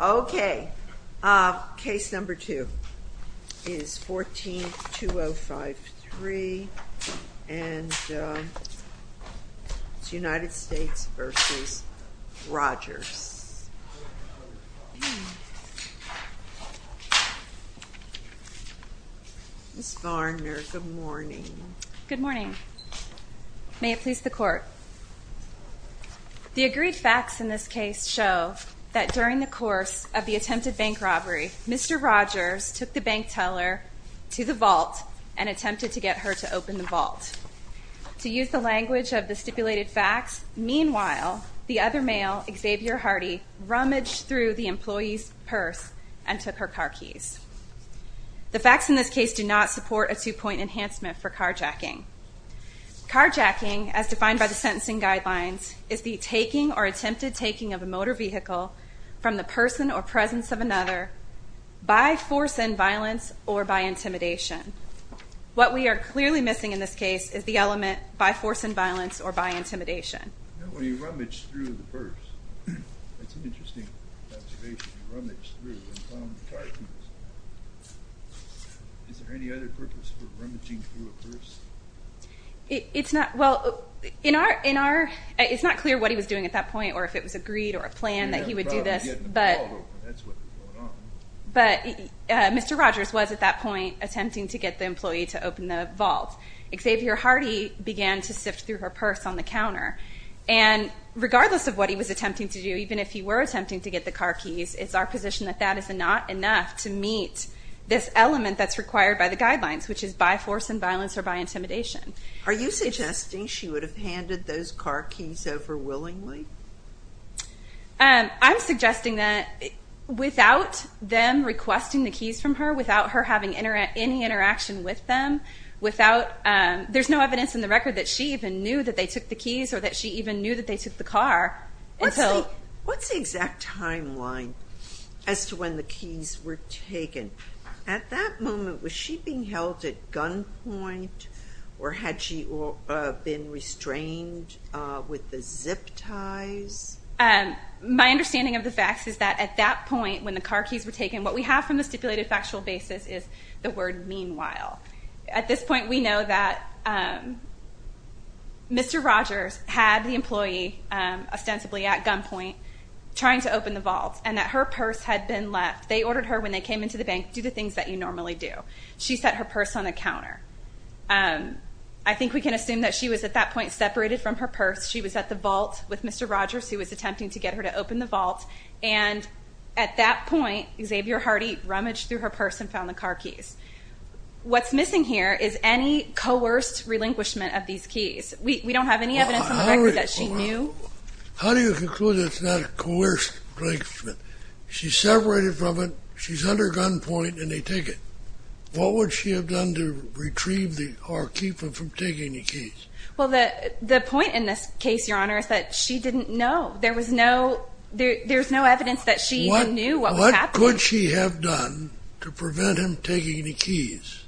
Okay, case number two is 14-205-3 and it's United States v. Rogers. Ms. Varner, good morning. Good morning. May it please the court. The agreed facts in it during the course of the attempted bank robbery, Mr. Rogers took the bank teller to the vault and attempted to get her to open the vault. To use the language of the stipulated facts, meanwhile, the other male, Xavier Hardy, rummaged through the employee's purse and took her car keys. The facts in this case do not support a two-point enhancement for carjacking. Carjacking, as defined by the sentencing guidelines, is the taking or attempted of a motor vehicle from the person or presence of another by force and violence or by intimidation. What we are clearly missing in this case is the element by force and violence or by intimidation. It's not, well, in our, it's not clear what he was doing at that point or if it was a greed or a plan that he would do this, but Mr. Rogers was at that point attempting to get the employee to open the vault. Xavier Hardy began to sift through her purse on the counter and regardless of what he was attempting to do, even if he were attempting to get the car keys, it's our position that that is not enough to meet this element that's required by the guidelines, which is by force and violence or by intimidation. Are you suggesting she would have handed those car keys over willingly? I'm suggesting that without them requesting the keys from her, without her having any interaction with them, without, there's no evidence in the record that she even knew that they took the keys or that she even knew that they took the car until... What's the exact timeline as to when the keys were taken? At that moment, was she being held at gunpoint or had she been restrained with the zip ties? My understanding of the facts is that at that point when the car keys were taken, what we have from the stipulated factual basis is the word meanwhile. At this point we know that Mr. Rogers had the employee ostensibly at gunpoint trying to open the vault. We know that when they came into the bank, she put her purse on the counter. I think we can assume that she was at that point separated from her purse. She was at the vault with Mr. Rogers who was attempting to get her to open the vault, and at that point, Xavier Hardy rummaged through her purse and found the car keys. What's missing here is any coerced relinquishment of these keys. We don't have any evidence in the record that she knew. How do you conclude it's not a coerced relinquishment? She's separated from it, she's under gunpoint, and they take it. What would she have done to retrieve or keep him from taking the keys? Well, the point in this case, Your Honor, is that she didn't know. There was no evidence that she even knew what was happening. What could she have done to prevent him taking the keys?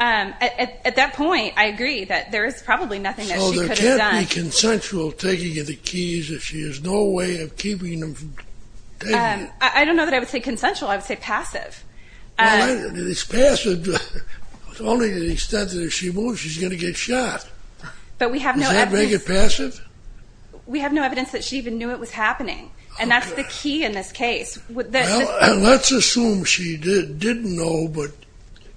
At that point, I agree that there is probably nothing that she could have done. But it can't be consensual taking of the keys if she has no way of keeping him from taking it. I don't know that I would say consensual. I would say passive. It's passive only to the extent that if she moves, she's going to get shot. Does that make it passive? We have no evidence that she even knew it was happening, and that's the key in this case. Well, let's assume she didn't know, but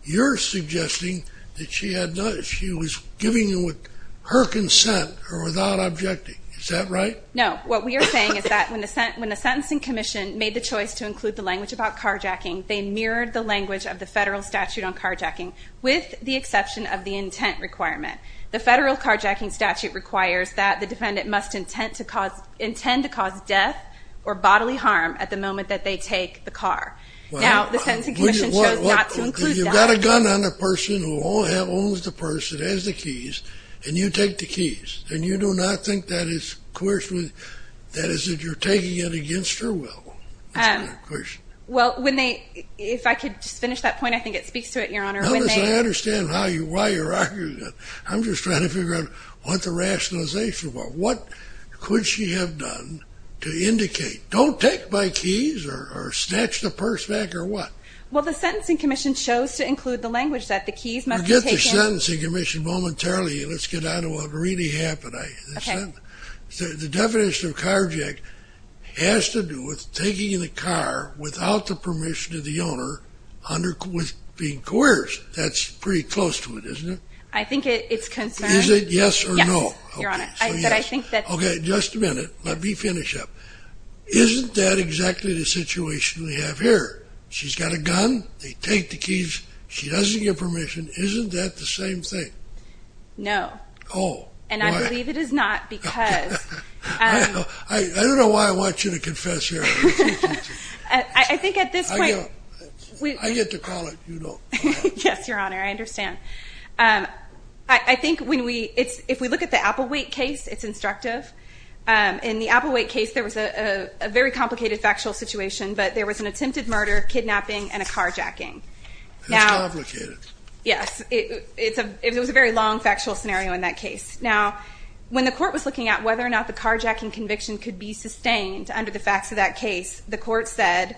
you're suggesting that she was giving with her consent or without objecting. Is that right? No. What we are saying is that when the Sentencing Commission made the choice to include the language about carjacking, they mirrored the language of the federal statute on carjacking with the exception of the intent requirement. The federal carjacking statute requires that the defendant must intend to cause death or bodily harm at the moment that they take the car. Now, the Sentencing Commission chose not to include that. You've got a gun on the person who owns the person who has the keys, and you take the keys, and you do not think that is coercion? That is that you're taking it against her will? That's not a coercion. Well, if I could just finish that point, I think it speaks to it, Your Honor. No, listen, I understand why you're arguing that. I'm just trying to figure out what the rationalization was. What could she have done to indicate, don't take my keys or snatch the purse back or what? Well, the Sentencing Commission chose to include the language that the keys must be taken. You momentarily, let's get on to what really happened. The definition of carjacking has to do with taking the car without the permission of the owner under being coerced. That's pretty close to it, isn't it? I think it's concerned. Is it yes or no? Yes, Your Honor. Okay, just a minute. Let me finish up. Isn't that exactly the situation we have here? She's got a gun, they take the keys, she doesn't get permission. Isn't that the same thing? No. Oh. And I believe it is not because... I don't know why I want you to confess here. I think at this point... I get to call it, you don't. Yes, Your Honor, I understand. I think when we, if we look at the Applewhite case, it's instructive. In the Applewhite case, there was a very complicated factual situation, but there was an attempted murder, kidnapping, and a carjacking. It's complicated. Yes, it was a very long factual scenario in that case. Now, when the court was looking at whether or not the carjacking conviction could be sustained under the facts of that case, the court said,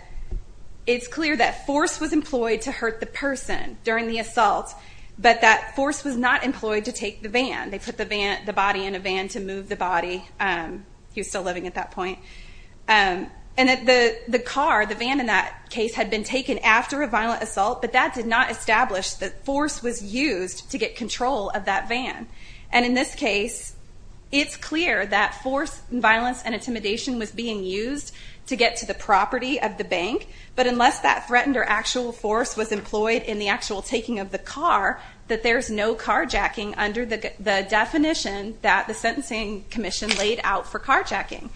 it's clear that force was employed to hurt the person during the assault, but that force was not employed to take the van. They put the body in a van to move the body. He was still living at that point. And the car, the van in that case, had been taken after a violent assault, but that did not establish that force was used to get control of that van. And in this case, it's clear that force, violence, and intimidation was being used to get to the property of the bank, but unless that threatened or actual force was employed in the actual taking of the car, that there's no carjacking under the definition that the Sentencing Commission laid out for carjacking.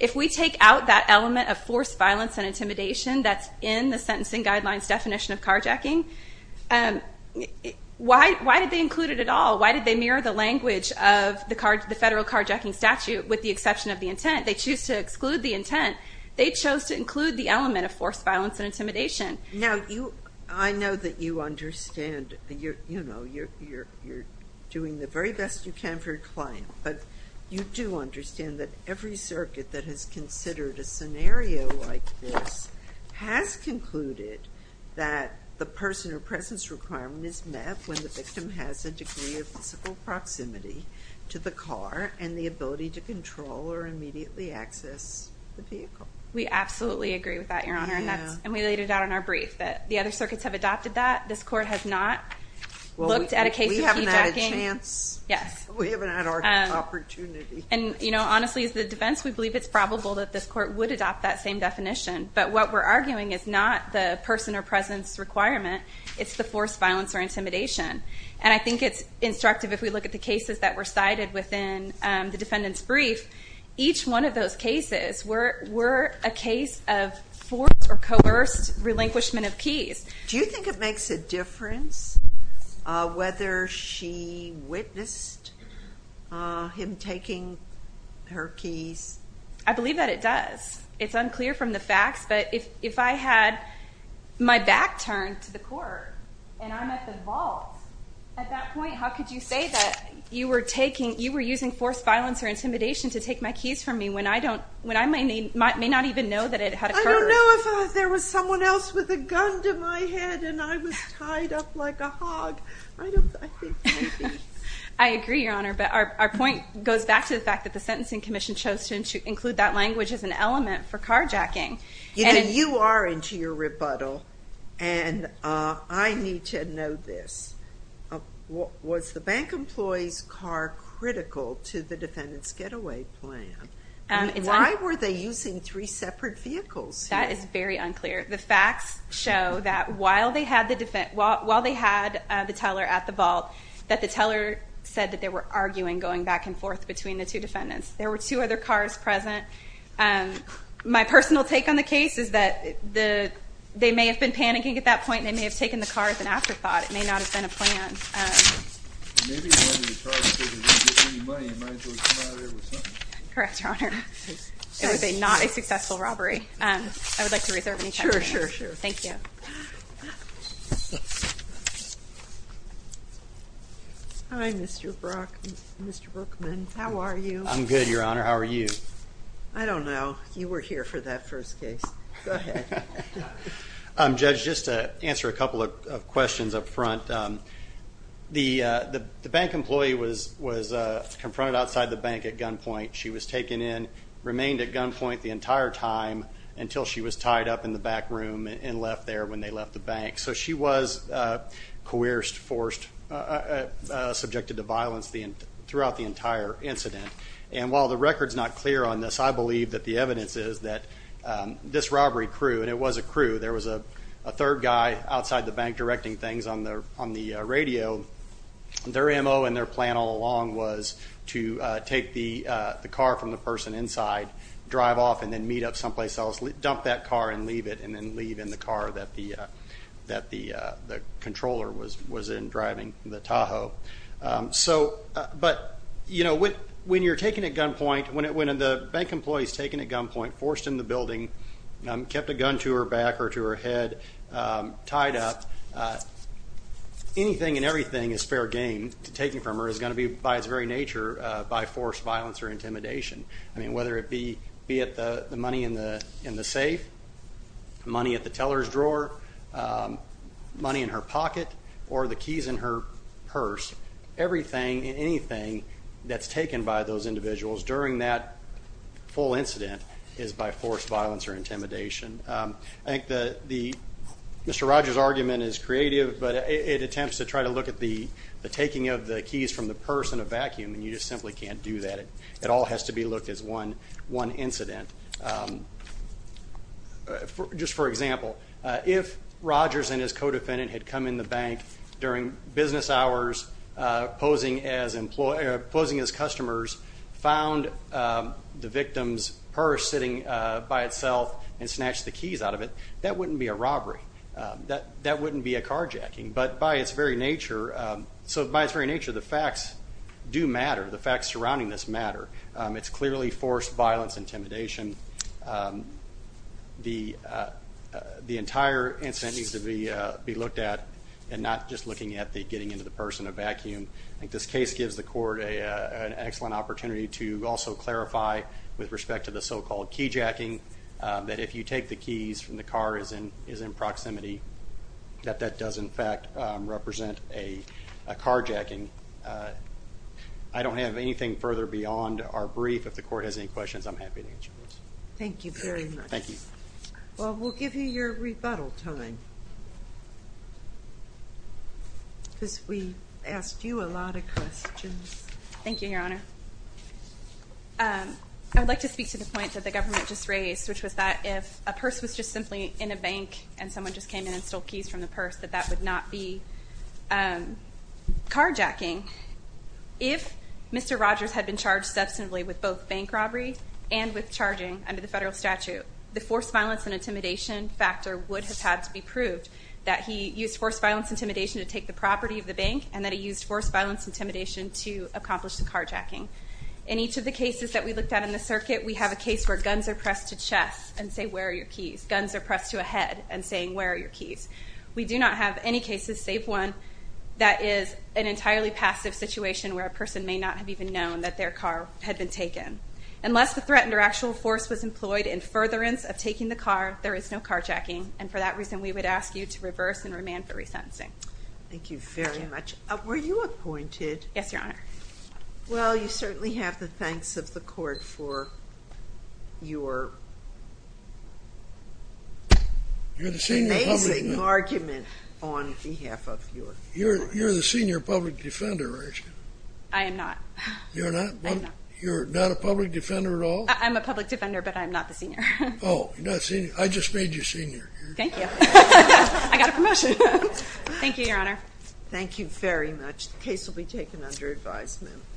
If we take out that element of force, violence, and intimidation that's in the Sentencing Guidelines definition of carjacking, why did they include it at all? Why did they mirror the language of the federal carjacking statute with the exception of the intent? They chose to exclude the intent. They chose to include the element of force, violence, and intimidation. Now, I know that you understand, you're doing the very best you can for your client, but you do understand that every circuit that has considered a scenario like this has concluded that the person or presence requirement is met when the victim has a degree of physical proximity to the car and the ability to control or immediately access the vehicle. We absolutely agree with that, Your Honor, and we laid it out in our brief that the other circuits have adopted that. This Court has not looked at a case of carjacking. We haven't had a chance. We haven't had our opportunity. And, you know, honestly, as the defense, we believe it's probable that this Court would adopt that same definition, but what we're arguing is not the person or presence requirement, it's the force, violence, or intimidation. And I think it's instructive if we look at the cases that were cited within the defendant's brief, each one of those cases were a case of forced or coerced relinquishment of keys. Do you think it makes a difference whether she witnessed him taking her keys? I believe that it does. It's unclear from the facts, but if I had my back turned to the Court and I'm at the vault, at that point, how could you say that you were taking, you were using force, violence, or intimidation to take my keys from me when I don't, when I may not even know that it had occurred? I don't know if there was someone else with a gun to my head and I was tied up like a hog. I don't, I think maybe. I agree, Your Honor, but our point goes back to the fact that the Sentencing Commission chose to include that language as an element for carjacking. You are into your rebuttal, and I need to know this. Was the bank employee's car critical to the defendant's getaway plan? I mean, why were they using three separate vehicles here? That is very unclear. The facts show that while they had the defendant, while they had the teller at the vault, that the teller said that they were arguing, going back and forth between the two defendants. There were two other cars present. My personal take on the case is that they may have been panicking at that point and they may have taken the car as an afterthought. It may not have been a plan. Maybe they wanted to charge because they didn't get any money and might as well come out here with something. Correct, Your Honor. It was not a successful robbery. I would like to reserve any time for that. Sure, sure, sure. Thank you. Hi, Mr. Brookman. How are you? I'm good, Your Honor. How are you? I don't know. You were here for that first case. Go ahead. Judge, just to answer a couple of questions up front, the bank employee was confronted outside the bank at gunpoint. She was taken in, remained at gunpoint the entire time until she was tied up in the back room and left there when they left the bank. So she was coerced, forced, subjected to violence throughout the entire incident. And while the record's not clear on this, I believe that the evidence is that this robbery crew, and it was a crew, there was a third guy outside the bank directing things on the radio. Their M.O. and their plan all along was to take the car from the person inside, drive off, and then meet up someplace else, dump that car and leave it, and then leave in the car that the controller was in driving the Tahoe. So, but, you know, when you're taken at gunpoint, when the bank employee's taken at gunpoint, forced in the building, kept a gun to her back or to her head, tied up, anything and everything is fair game. Taking from her is going to be, by its very nature, by force, violence, or intimidation. I mean, whether it be at the money in the safe, money at the teller's drawer, money in her pocket, or the keys in her purse, everything and anything that's taken by those individuals during that full incident is by force, violence, or intimidation. I think that Mr. Rogers' argument is creative, but it attempts to try to look at the taking of the keys from the purse in a vacuum, and you just simply can't do that. It all has to be looked as one incident. Just for example, if Rogers and his co-defendant had come in the bank during business hours, posing as customers, found the victim's purse sitting by itself and snatched the keys out of it, that wouldn't be a robbery. That wouldn't be a carjacking. But by its very nature, so by its very nature, the facts do matter. The facts surrounding this matter. It's clearly force, violence, intimidation. The entire incident needs to be looked at and not just looking at the getting into the purse in a vacuum. I think this case gives the court an excellent opportunity to also clarify with respect to the so-called keyjacking, that if you take the keys and the car is in proximity, that that does in fact represent a carjacking. I don't have anything further beyond our brief. If the court has any questions, I'm happy to answer those. Thank you very much. Thank you. Well, we'll give you your rebuttal time, because we asked you a lot of questions. Thank you, Your Honor. I would like to speak to the point that the government just raised, which was that if a purse was just simply in a bank and someone just came in and stole keys from the purse, that that would not be carjacking. If Mr. Rogers had been charged substantively with both bank robbery and with charging under the federal statute, the force, violence, and intimidation factor would have had to be proved, that he used force, violence, intimidation to take the property of the bank and that he used force, violence, intimidation to accomplish the carjacking. In each of the cases that we looked at in the circuit, we have a case where guns are pressed to a chest and say, where are your keys? Guns are pressed to a head and saying, where are your keys? We do not have any cases, save one, that is an entirely passive situation where a person may not have even known that their car had been taken. Unless the threat under actual force was employed in furtherance of taking the car, there is no carjacking. And for that reason, we would ask you to reverse and remand for resentencing. Thank you very much. Thank you. Were you appointed? Yes, Your Honor. Well, you certainly have the thanks of the court for your amazing argument on behalf of your court. You're the senior public defender, aren't you? I am not. You're not? I am not. You're not a public defender at all? I'm a public defender, but I'm not the senior. Oh, you're not senior. I just made you senior. Thank you. I got a promotion. Thank you, Your Honor. Thank you very much. The case will be taken under advisement.